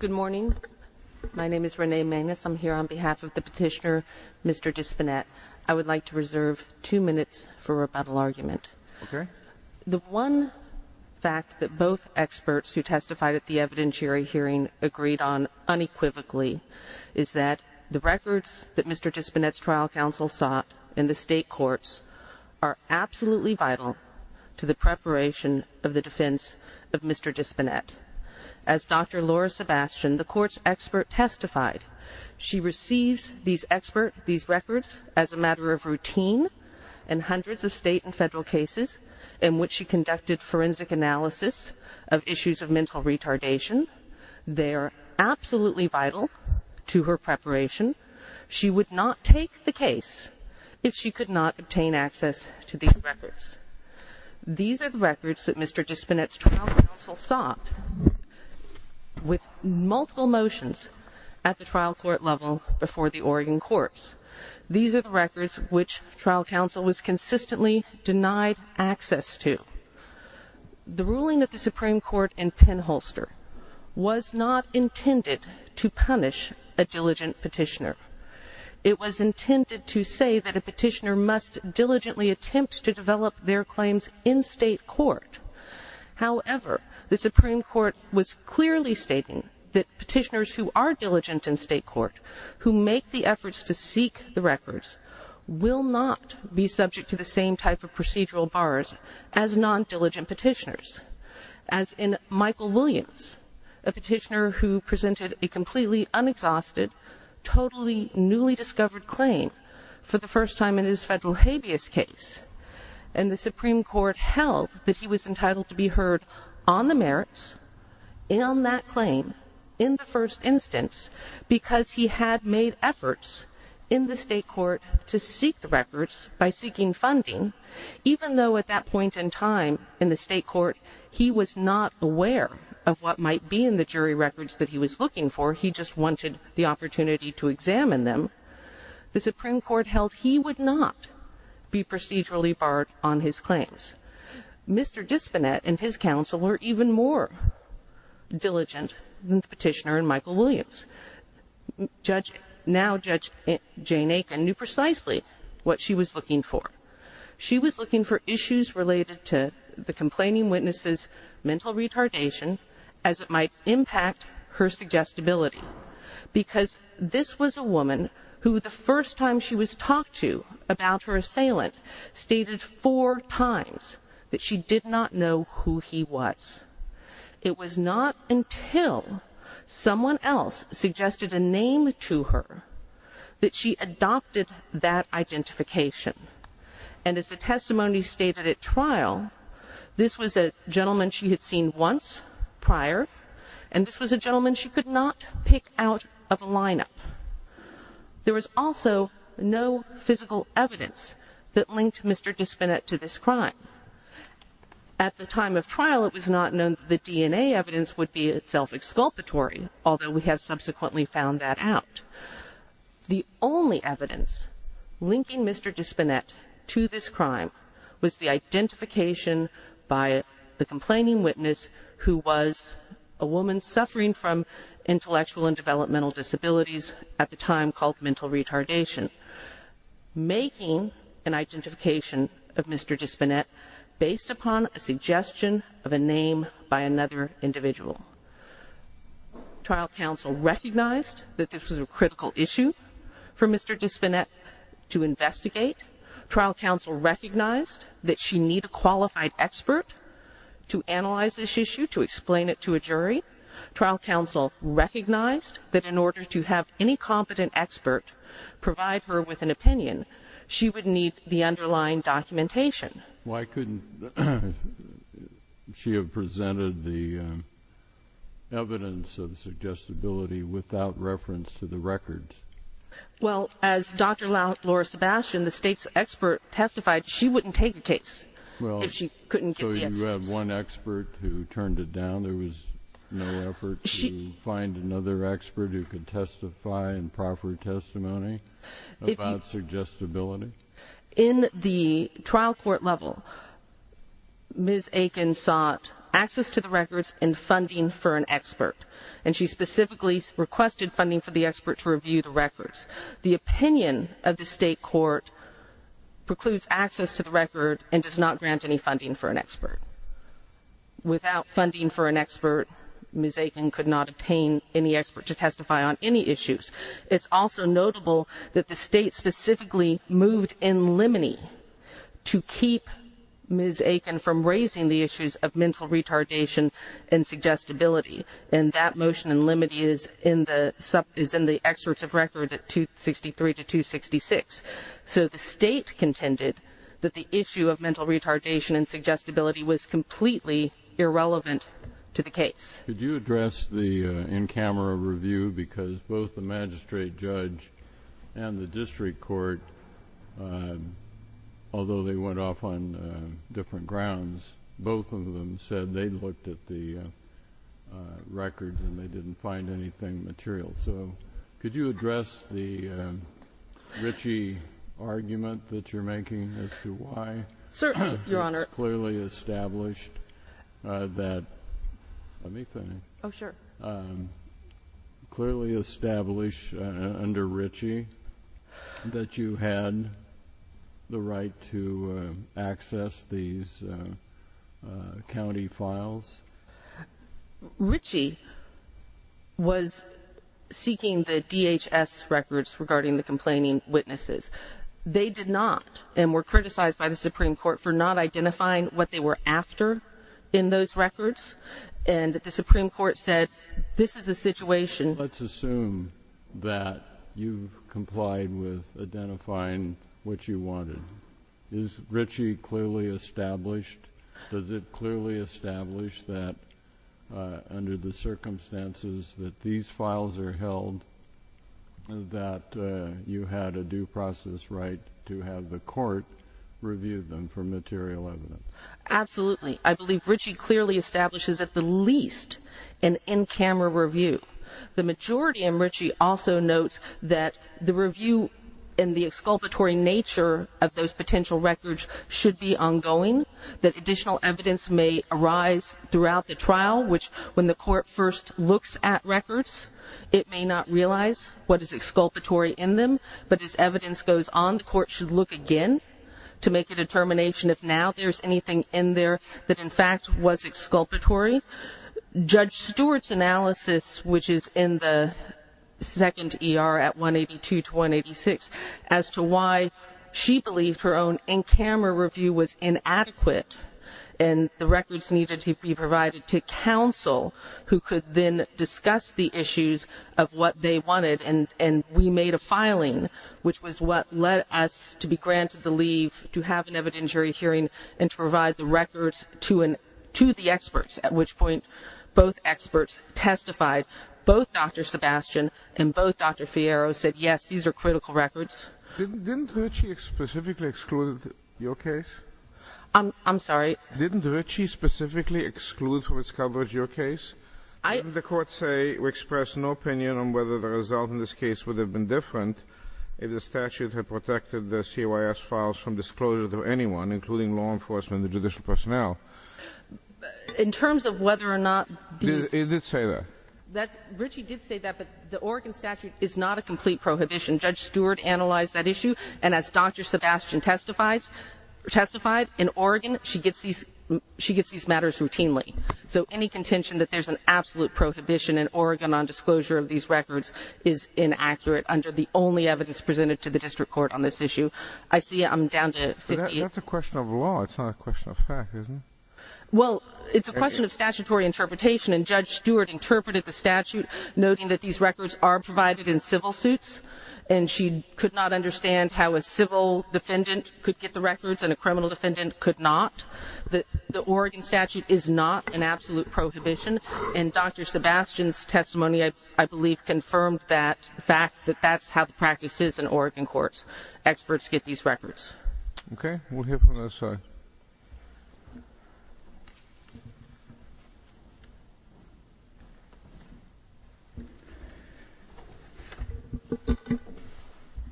Good morning. My name is Renee Magnus. I'm here on behalf of the petitioner, Mr. Dispennett. I would like to reserve two minutes for rebuttal argument. The one fact that both experts who testified at the evidentiary hearing agreed on unequivocally is that the records that Mr. Dispennett's trial counsel sought in the state courts are absolutely vital to the preparation of the defense of Mr. Dispennett. As Dr. Laura Sebastian, the court's expert, testified, she receives these records as a matter of routine in hundreds of state and federal cases in which she conducted forensic analysis of issues of mental retardation. They are absolutely vital to her preparation. She would not take the case if she could not obtain access to these records. These are the records that Mr. Dispennett's trial counsel sought with multiple motions at the trial court level before the Oregon courts. These are the records which trial counsel was consistently denied access to. The ruling of the Supreme Court in Pennholster was not intended to punish a diligent petitioner. It was intended to say that a petitioner must diligently attempt to develop their claims in state court. However, the Supreme Court was clearly stating that petitioners who are diligent in state court, who make the efforts to seek the records, will not be subject to the same type of procedural bars as non-diligent petitioners. As in Michael Williams, a petitioner who presented a completely unexhausted, totally newly discovered claim for the first time in his federal habeas case, and the Supreme Court held that he was entitled to be heard on the merits in that claim in the first instance because he had made efforts in the state court to seek the records by seeking funding, even though at that point in time in the state court he was not aware of what might be in the jury records that he was looking for. He just wanted the opportunity to examine them. The Supreme Court held he would not be procedurally barred on his claims. Mr. Dispinette and his counsel were even more diligent than the petitioner in Michael Williams. Judge, now Judge Jane Aiken, knew precisely what she was looking for. She was looking for issues related to the complaining witness's mental retardation as it might impact her suggestibility because this was a woman who the first time she was talked to about her assailant stated four times that she did not know who he was. It was not until someone else suggested a name to her that she adopted that gentleman she had seen once prior and this was a gentleman she could not pick out of a lineup. There was also no physical evidence that linked Mr. Dispinette to this crime. At the time of trial it was not known that the DNA evidence would be itself exculpatory, although we have subsequently found that out. The only evidence linking Mr. Dispinette to this crime was the identification by the complaining witness who was a woman suffering from intellectual and developmental disabilities at the time called mental retardation. Making an identification of Mr. Dispinette based upon a suggestion of a name by another individual. Trial counsel recognized that this was a critical issue for Mr. Dispinette to investigate. Trial counsel recognized that she needed a qualified expert to analyze this issue, to explain it to a jury. Trial counsel recognized that in order to have any competent expert provide her with an opinion she would need the underlying documentation. Why couldn't she have presented the evidence of suggestibility without reference to the records? Well as Dr. Laura Sebastian, the state's expert, testified, she wouldn't take a case if she couldn't get the evidence. So you had one expert who turned it down? There was no effort to find another expert who could testify and proffer testimony about suggestibility? In the trial court level, Ms. Aiken sought access to the records and funding for an expert, and she specifically requested funding for the expert to review the records. The opinion of the state court precludes access to the record and does not grant any funding for an expert. Without funding for an expert, Ms. Aiken could not obtain any expert to testify on any issues. It's also notable that the state specifically moved in limine to keep Ms. Aiken from raising the issues of mental retardation and suggestibility. And that motion in limine is in the excerpts of record at 263 to 266. So the state contended that the issue of mental retardation and suggestibility was completely irrelevant to the case. Could you address the in-camera review? Because both the magistrate judge and the district court, although they went off on different grounds, both of them said they looked at the records and they didn't find anything material. So could you address the Ritchie argument that you're making as to why it's clearly established under Ritchie that you had the right to access these county files? Ritchie was seeking the DHS records regarding the complaining witnesses. They did not, and were criticized by the Supreme Court for not identifying what they were after in those records. And the Supreme Court said, this is a situation Let's assume that you've complied with identifying what you wanted. Is Ritchie clearly established? Does it clearly establish that under the circumstances that these files are held that you had a due process right to have the court review them for material evidence? Absolutely. I believe Ritchie clearly establishes at the least an in-camera review. The majority in Ritchie also notes that the review and the exculpatory nature of those potential records should be ongoing, that additional evidence may arise throughout the trial, which when the court first looks at records, it may not realize what is exculpatory in them. But as evidence goes on, the court should look again to make a determination if now there's anything in there that in fact was exculpatory. Judge Stewart's analysis, which is in the second ER at 182 to 186, as to why she believed her own in-camera review was inadequate and the records needed to be provided to counsel who could then discuss the issues of what they wanted. And we made a filing, which was what led us to be granted the leave to have an evidentiary hearing and to provide the records to the experts, at which point both experts testified. Both Dr. Sebastian and both Dr. Fierro said, yes, these are critical records. Didn't Ritchie specifically exclude your case? I'm sorry? Didn't Ritchie specifically exclude from its coverage your case? Didn't the court say or express an opinion on whether the result in this case would have been different if the statute had protected the CYS files from disclosure to anyone, including law enforcement and judicial personnel? In terms of whether or not these... It did say that. Ritchie did say that, but the Oregon statute is not a complete prohibition. Judge Stewart analyzed that issue, and as Dr. Sebastian testified, in Oregon she gets these matters routinely. So any contention that there's an absolute prohibition in Oregon on disclosure of these records is inaccurate under the only evidence presented to the district court on this issue. I see I'm down to 58. That's a question of law. It's not a question of fact, is it? Well, it's a question of statutory interpretation, and Judge Stewart interpreted the statute noting that these records are provided in civil suits, and she could not understand how a civil defendant could get the records and a criminal defendant could not. The Oregon statute is not an absolute prohibition, and Dr. Sebastian's testimony, I believe, confirmed that fact, that that's how the practice is in Oregon courts. Experts get these records. Okay, we'll hear from the other side.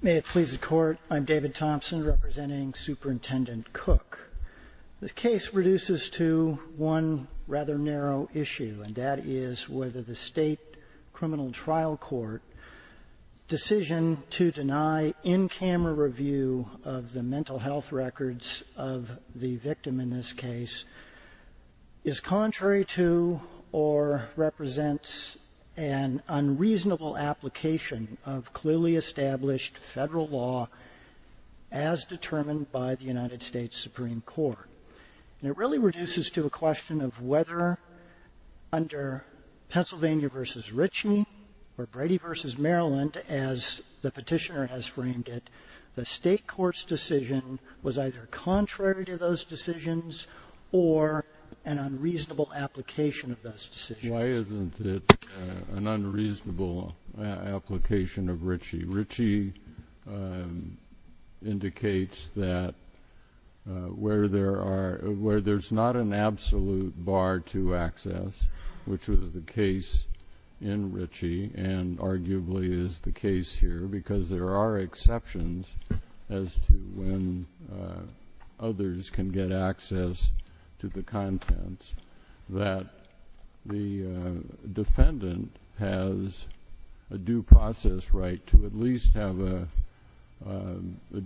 May it please the Court, I'm David Thompson, representing Superintendent Cook. The case reduces to one rather narrow issue, and that is whether the state criminal trial court decision to deny in-camera review of the mental health records of the victim in this case is contrary to or represents an unreasonable application of clearly established federal law as determined by the United States Supreme Court. And it really reduces to a question of whether under Pennsylvania v. Ritchie or Brady v. Maryland, as the petitioner has framed it, the state court's decision was either contrary to those decisions or an unreasonable application of those decisions. Why isn't it an unreasonable application of Ritchie? Ritchie indicates that where there's not an absolute bar to access, which was the case in Ritchie and arguably is the case here, because there are exceptions as to when others can get access to the contents, that the defendant has a due process right to at least have a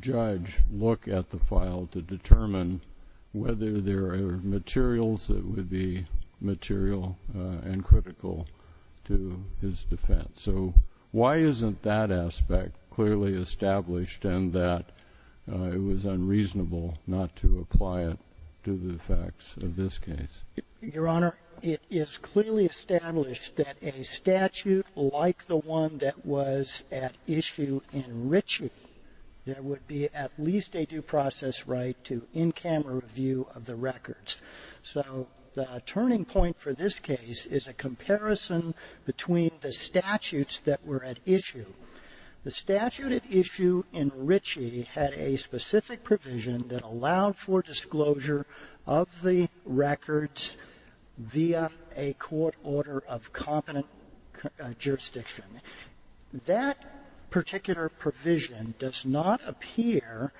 judge look at the file to determine whether there are materials that would be material and critical to his defense. So why isn't that aspect clearly established and that it was unreasonable not to apply it to the facts of this case? Your Honor, it is clearly established that a statute like the one that was at issue in Ritchie, there would be at least a due process right to in-camera review of the records. So the turning point for this case is a comparison between the statutes that were at issue. The statute at issue in Ritchie had a specific provision that allowed for disclosure of the records via a court order of competent jurisdiction. That particular provision does not appear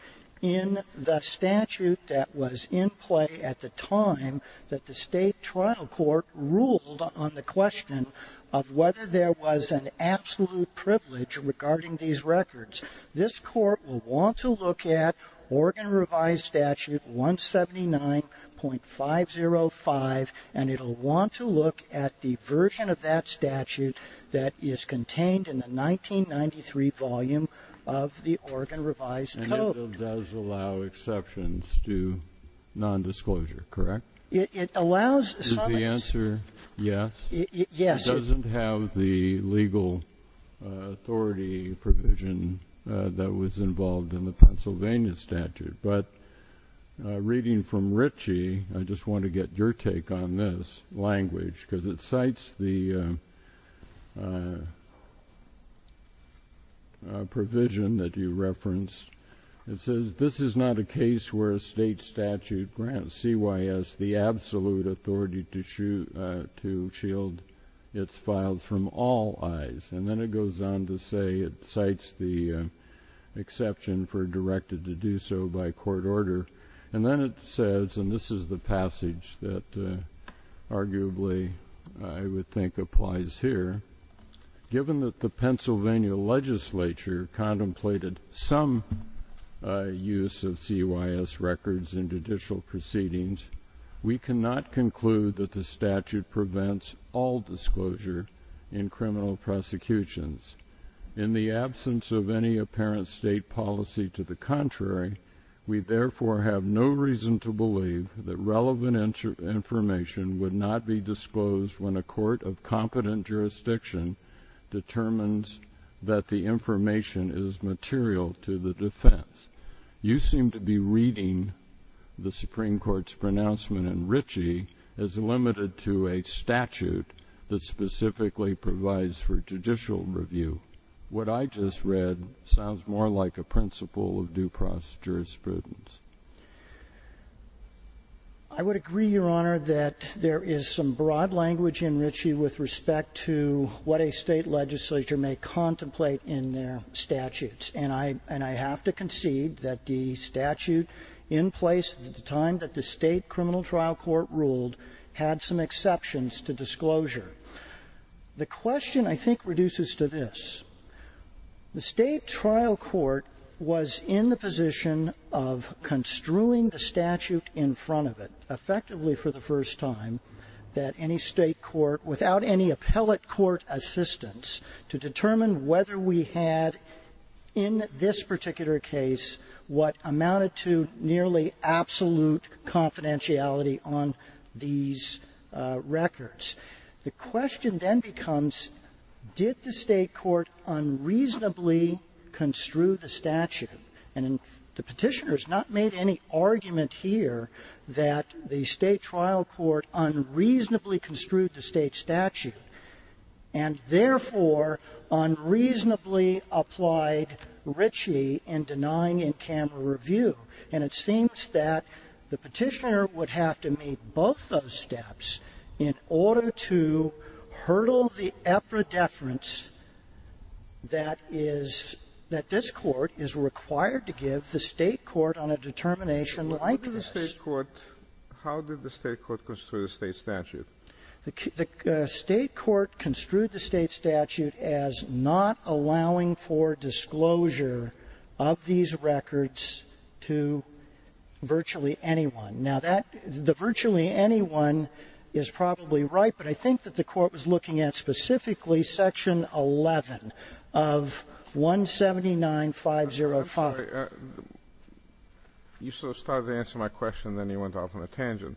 in the statute that was in play at the time that the state trial court ruled on the question of whether there was an absolute privilege regarding these records. This court will want to look at Oregon Revised Statute 179.505, and it will want to look at the version of that statute that is contained in the 1993 volume of the Oregon Revised Code. And it does allow exceptions to nondisclosure, correct? It allows summons. Is the answer yes? Yes. It doesn't have the legal authority provision that was involved in the Pennsylvania statute, but reading from Ritchie, I just want to get your take on this language because it cites the provision that you referenced. It says, this is not a case where a state statute grants CYS the absolute authority to shield its files from all eyes. And then it goes on to say it cites the exception for directed to do so by court order. And then it says, and this is the passage that arguably I would think applies here, given that the Pennsylvania legislature contemplated some use of CYS records in judicial proceedings, we cannot conclude that the statute prevents all disclosure in criminal prosecutions. In the absence of any apparent state policy to the contrary, we therefore have no reason to believe that relevant information would not be disclosed when a court of competent jurisdiction determines that the information is material to the defense. You seem to be reading the Supreme Court's pronouncement in Ritchie as limited to a statute that specifically provides for judicial review. What I just read sounds more like a principle of due process jurisprudence. I would agree, Your Honor, that there is some broad language in Ritchie with respect to what a state legislature may contemplate in their statutes. And I have to concede that the statute in place at the time that the state criminal trial court ruled had some exceptions to disclosure. The question, I think, reduces to this. The state trial court was in the position of construing the statute in front of it, effectively for the first time, that any state court, without any appellate court assistance, to determine whether we had in this particular case what amounted to nearly absolute confidentiality on these records. The question then becomes, did the state court unreasonably construe the statute? And the petitioner has not made any argument here that the state trial court unreasonably construed the state statute and therefore unreasonably applied Ritchie in denying in camera review. And it seems that the petitioner would have to meet both those steps in order to hurdle the epideference that this court is required to give the state court on a determination like this. How did the state court construe the state statute? The state court construed the state statute as not allowing for disclosure of these records to virtually anyone. Now, the virtually anyone is probably right, but I think that the court was looking at specifically section 11 of 179-505. You sort of started to answer my question, then you went off on a tangent.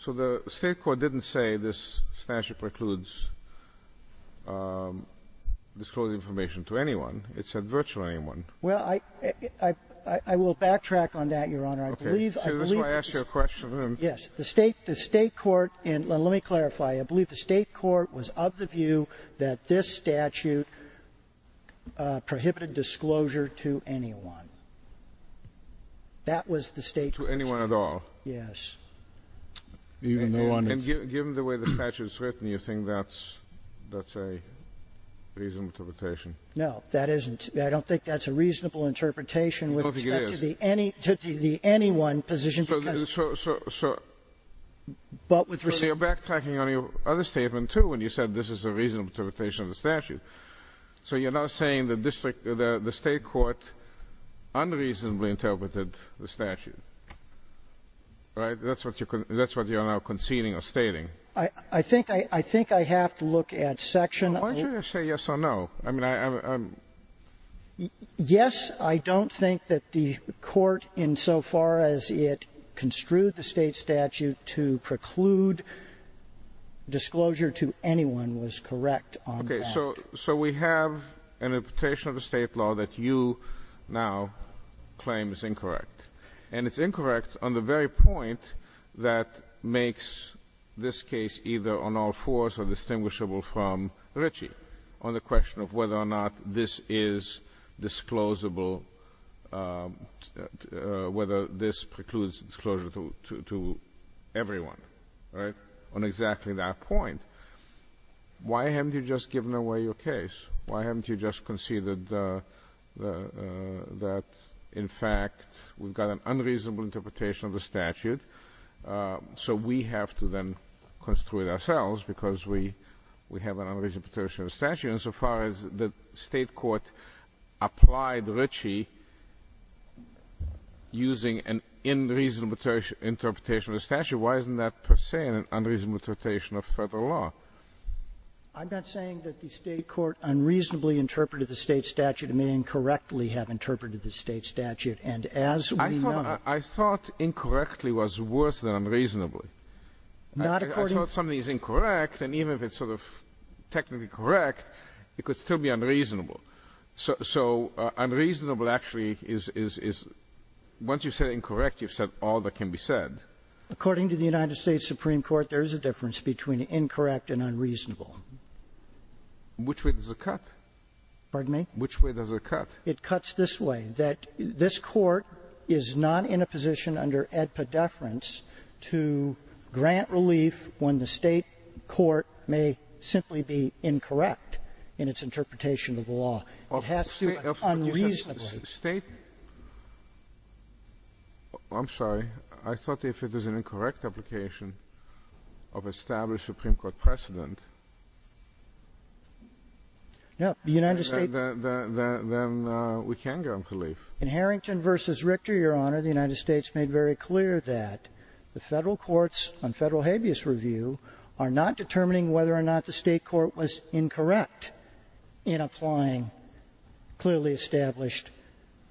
So the state court didn't say this statute precludes disclosing information to anyone. It said virtually anyone. Well, I will backtrack on that, Your Honor. Okay. This is why I asked you a question. Yes. The state court, and let me clarify, I believe the state court was of the view that this statute prohibited disclosure to anyone. That was the state court's view. To anyone at all. Yes. And given the way the statute is written, you think that's a reasonable interpretation? No, that isn't. I don't think that's a reasonable interpretation with respect to the anyone position. So you're backtracking on your other statement, too, when you said this is a reasonable interpretation of the statute. So you're now saying the state court unreasonably interpreted the statute. Right? That's what you're now conceding or stating. I think I have to look at section 11. Why don't you just say yes or no? Yes, I don't think that the court, insofar as it construed the state statute to preclude disclosure to anyone, was correct on that. So we have an interpretation of the state law that you now claim is incorrect. And it's incorrect on the very point that makes this case either on all fours or distinguishable from Ritchie, on the question of whether or not this is disclosable, whether this precludes disclosure to everyone. Right? On exactly that point. Why haven't you just given away your case? Why haven't you just conceded that, in fact, we've got an unreasonable interpretation of the statute, so we have to then construe it ourselves because we have an unreasonable interpretation of the statute? And so far as the state court applied Ritchie using an unreasonable interpretation of the statute, why isn't that per se an unreasonable interpretation of Federal law? I'm not saying that the state court unreasonably interpreted the state statute. It may incorrectly have interpreted the state statute. And as we know ---- I thought incorrectly was worse than unreasonably. Not according to ---- I thought something is incorrect, and even if it's sort of technically correct, it could still be unreasonable. So unreasonable actually is, once you've said incorrect, you've said all that can be said. According to the United States Supreme Court, there is a difference between incorrect and unreasonable. Which way does it cut? Pardon me? Which way does it cut? It cuts this way, that this Court is not in a position under ADPA deference to grant relief when the state court may simply be incorrect in its interpretation of the law. It has to be unreasonable. State ---- I'm sorry. I thought if it is an incorrect application of established Supreme Court precedent ---- No. The United States ---- Then we can grant relief. In Harrington v. Richter, Your Honor, the United States made very clear that the Federal courts on Federal habeas review are not determining whether or not the state court was incorrect in applying clearly established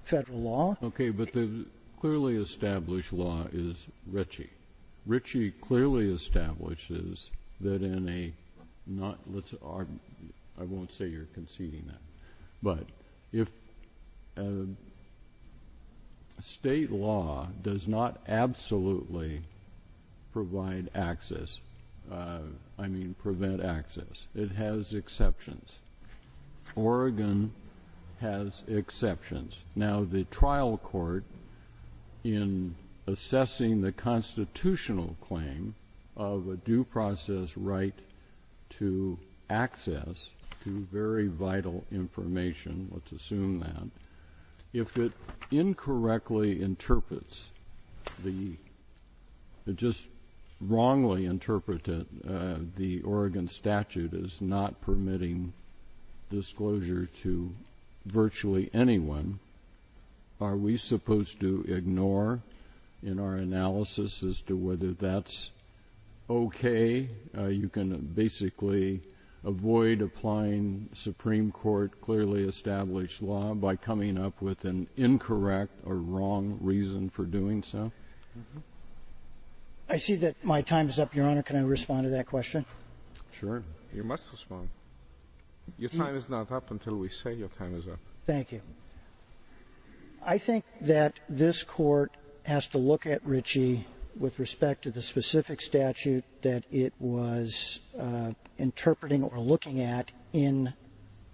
Federal law. Okay. But the clearly established law is Ritchie. Ritchie clearly establishes that in a not ---- I won't say you're conceding that. But if state law does not absolutely provide access, I mean prevent access, it has exceptions. Oregon has exceptions. Now, the trial court in assessing the constitutional claim of a due process right to access to very vital information, let's assume that, if it incorrectly interprets the ---- is not permitting disclosure to virtually anyone, are we supposed to ignore in our analysis as to whether that's okay? You can basically avoid applying Supreme Court clearly established law by coming up with an incorrect or wrong reason for doing so? I see that my time is up, Your Honor. Can I respond to that question? Sure. You must respond. Your time is not up until we say your time is up. Thank you. I think that this Court has to look at Ritchie with respect to the specific statute that it was interpreting or looking at in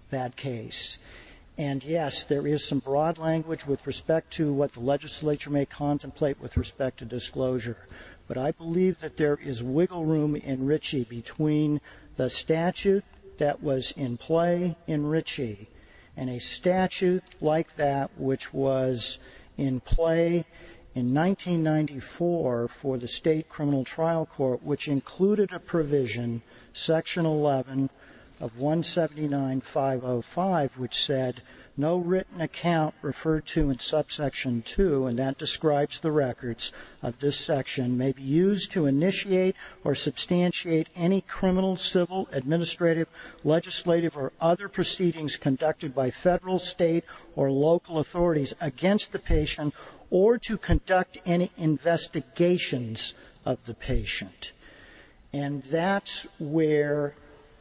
that case. And, yes, there is some broad language with respect to what the legislature may contemplate with respect to disclosure. But I believe that there is wiggle room in Ritchie between the statute that was in play in Ritchie and a statute like that which was in play in 1994 for the State Criminal Trial Court, which included a provision, Section 11 of 179.505, which said, no written account referred to in Subsection 2, and that describes the records of this section, may be used to initiate or substantiate any criminal, civil, administrative, legislative, or other proceedings conducted by Federal, State, or local authorities against the patient or to conduct any investigations of the patient. And that's where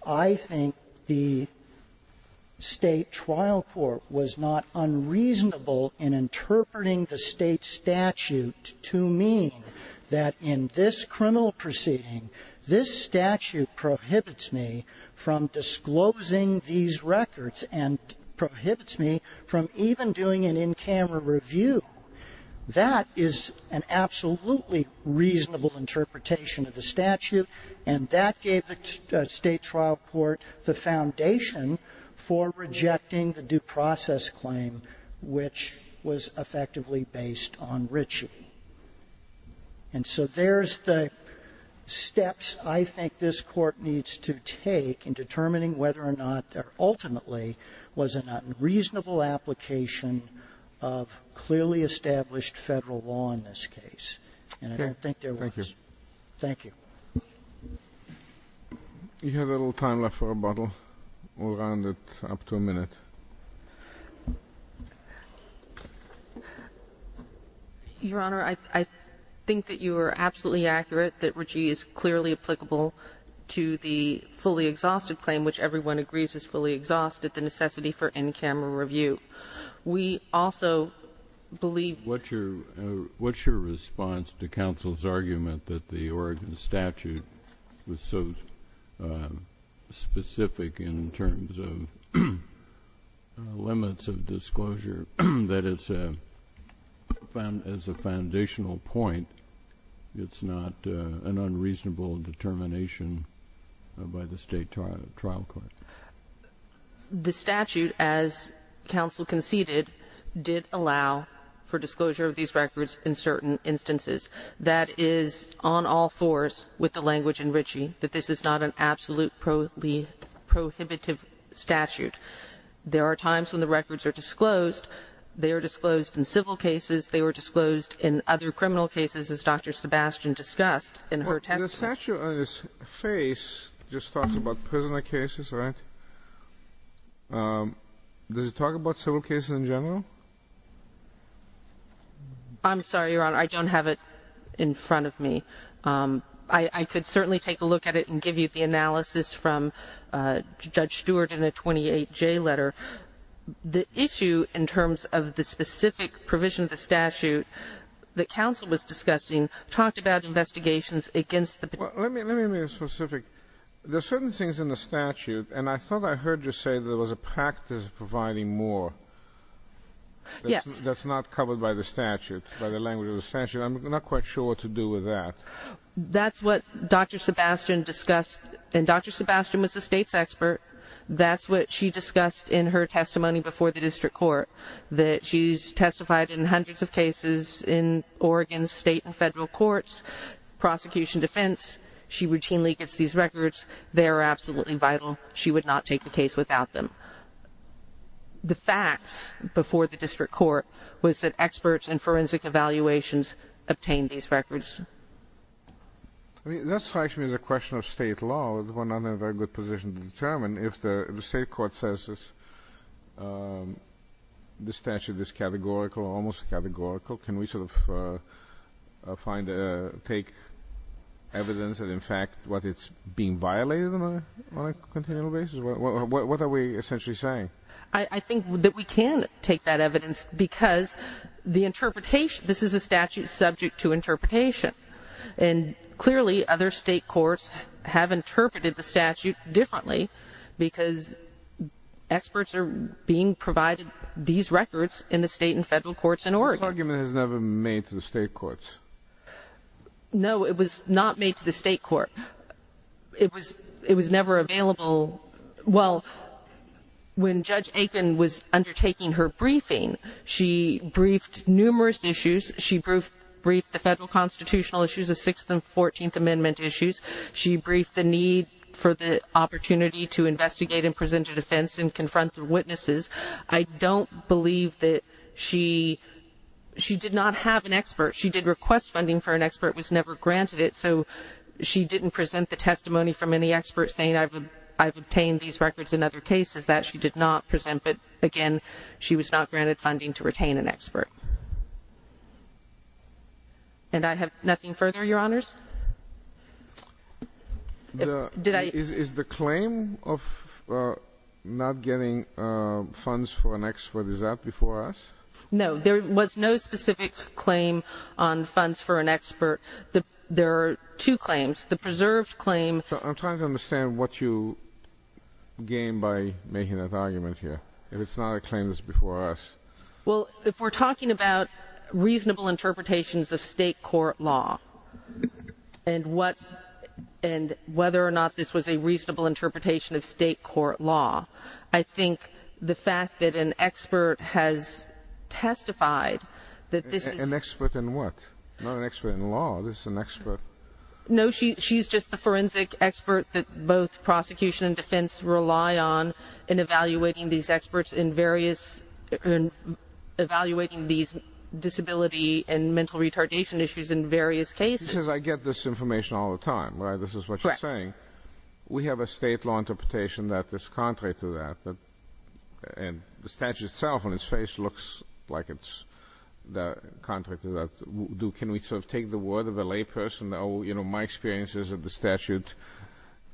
I think the State Trial Court was not unreasonable in interpreting the State statute to mean that in this criminal proceeding, this statute prohibits me from disclosing these records and prohibits me from even doing an in-camera review. That is an absolutely reasonable interpretation of the statute, and that gave the State Trial Court the foundation for rejecting the due process claim which was effectively based on Ritchie. And so there's the steps I think this Court needs to take in determining whether or not there ultimately was a reasonable application of clearly established Federal law in this case. And I don't think there was. Thank you. Thank you. We have a little time left for a bottle. We'll round it up to a minute. Your Honor, I think that you are absolutely accurate that Ritchie is clearly applicable to the fully exhausted claim, which everyone agrees is fully exhausted, the necessity for in-camera review. We also believe you're right. What's your response to counsel's argument that the Oregon statute was so specific in terms of limits of disclosure that as a foundational point, it's not an unreasonable determination by the State Trial Court? The statute, as counsel conceded, did allow for disclosure of these records in certain instances. That is on all fours with the language in Ritchie, that this is not an absolutely prohibitive statute. There are times when the records are disclosed. They are disclosed in civil cases. They were disclosed in other criminal cases, as Dr. Sebastian discussed in her testimony. The statute on his face just talks about prisoner cases, right? Does it talk about civil cases in general? I'm sorry, Your Honor. I don't have it in front of me. I could certainly take a look at it and give you the analysis from Judge Stewart in a 28J letter. The issue in terms of the specific provision of the statute that counsel was discussing talked about investigations against the prisoner. Let me be specific. There are certain things in the statute, and I thought I heard you say there was a practice of providing more. Yes. That's not covered by the statute, by the language of the statute. I'm not quite sure what to do with that. That's what Dr. Sebastian discussed, and Dr. Sebastian was the State's expert. That's what she discussed in her testimony before the district court, that she's testified in hundreds of cases in Oregon's state and federal courts, prosecution, defense. She routinely gets these records. They are absolutely vital. She would not take the case without them. The facts before the district court was that experts in forensic evaluations obtained these records. That strikes me as a question of state law. We're not in a very good position to determine. If the state court says the statute is categorical, almost categorical, can we sort of take evidence that, in fact, it's being violated on a continual basis? What are we essentially saying? I think that we can take that evidence because the interpretation, this is a statute subject to interpretation, and clearly other state courts have interpreted the statute differently because experts are being provided these records in the state and federal courts in Oregon. This argument was never made to the state courts. No, it was not made to the state court. It was never available. Well, when Judge Aiken was undertaking her briefing, she briefed numerous issues. She briefed the federal constitutional issues, the Sixth and Fourteenth Amendment issues. She briefed the need for the opportunity to investigate and present a defense and confront the witnesses. I don't believe that she did not have an expert. She did request funding for an expert. It was never granted it, so she didn't present the testimony from any expert saying, I've obtained these records in other cases that she did not present, but, again, she was not granted funding to retain an expert. And I have nothing further, Your Honors? Is the claim of not getting funds for an expert, is that before us? No, there was no specific claim on funds for an expert. There are two claims. The preserved claim. I'm trying to understand what you gain by making that argument here, if it's not a claim that's before us. Well, if we're talking about reasonable interpretations of state court law and whether or not this was a reasonable interpretation of state court law, I think the fact that an expert has testified that this is... She's not an expert in law. This is an expert. No, she's just the forensic expert that both prosecution and defense rely on in evaluating these experts in various... evaluating these disability and mental retardation issues in various cases. She says, I get this information all the time, right? This is what you're saying. Correct. We have a state law interpretation that is contrary to that, and the statute itself on its face looks like it's contrary to that. Can we sort of take the word of a layperson, oh, my experience is that the statute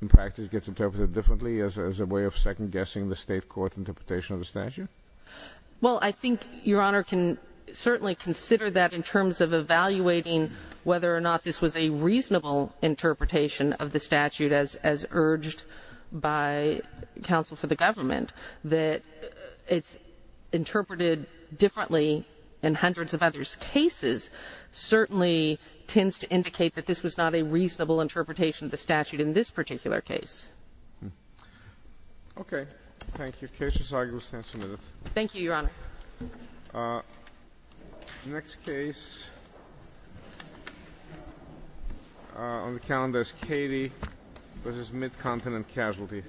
in practice gets interpreted differently as a way of second-guessing the state court interpretation of the statute? Well, I think Your Honor can certainly consider that in terms of evaluating whether or not this was a reasonable interpretation of the statute as urged by counsel for the government, that it's interpreted differently in hundreds of others' cases certainly tends to indicate that this was not a reasonable interpretation of the statute in this particular case. Okay. Thank you. The case is argued and stands submitted. Thank you, Your Honor. The next case on the calendar is Katie v. Mid-Continent Casualty.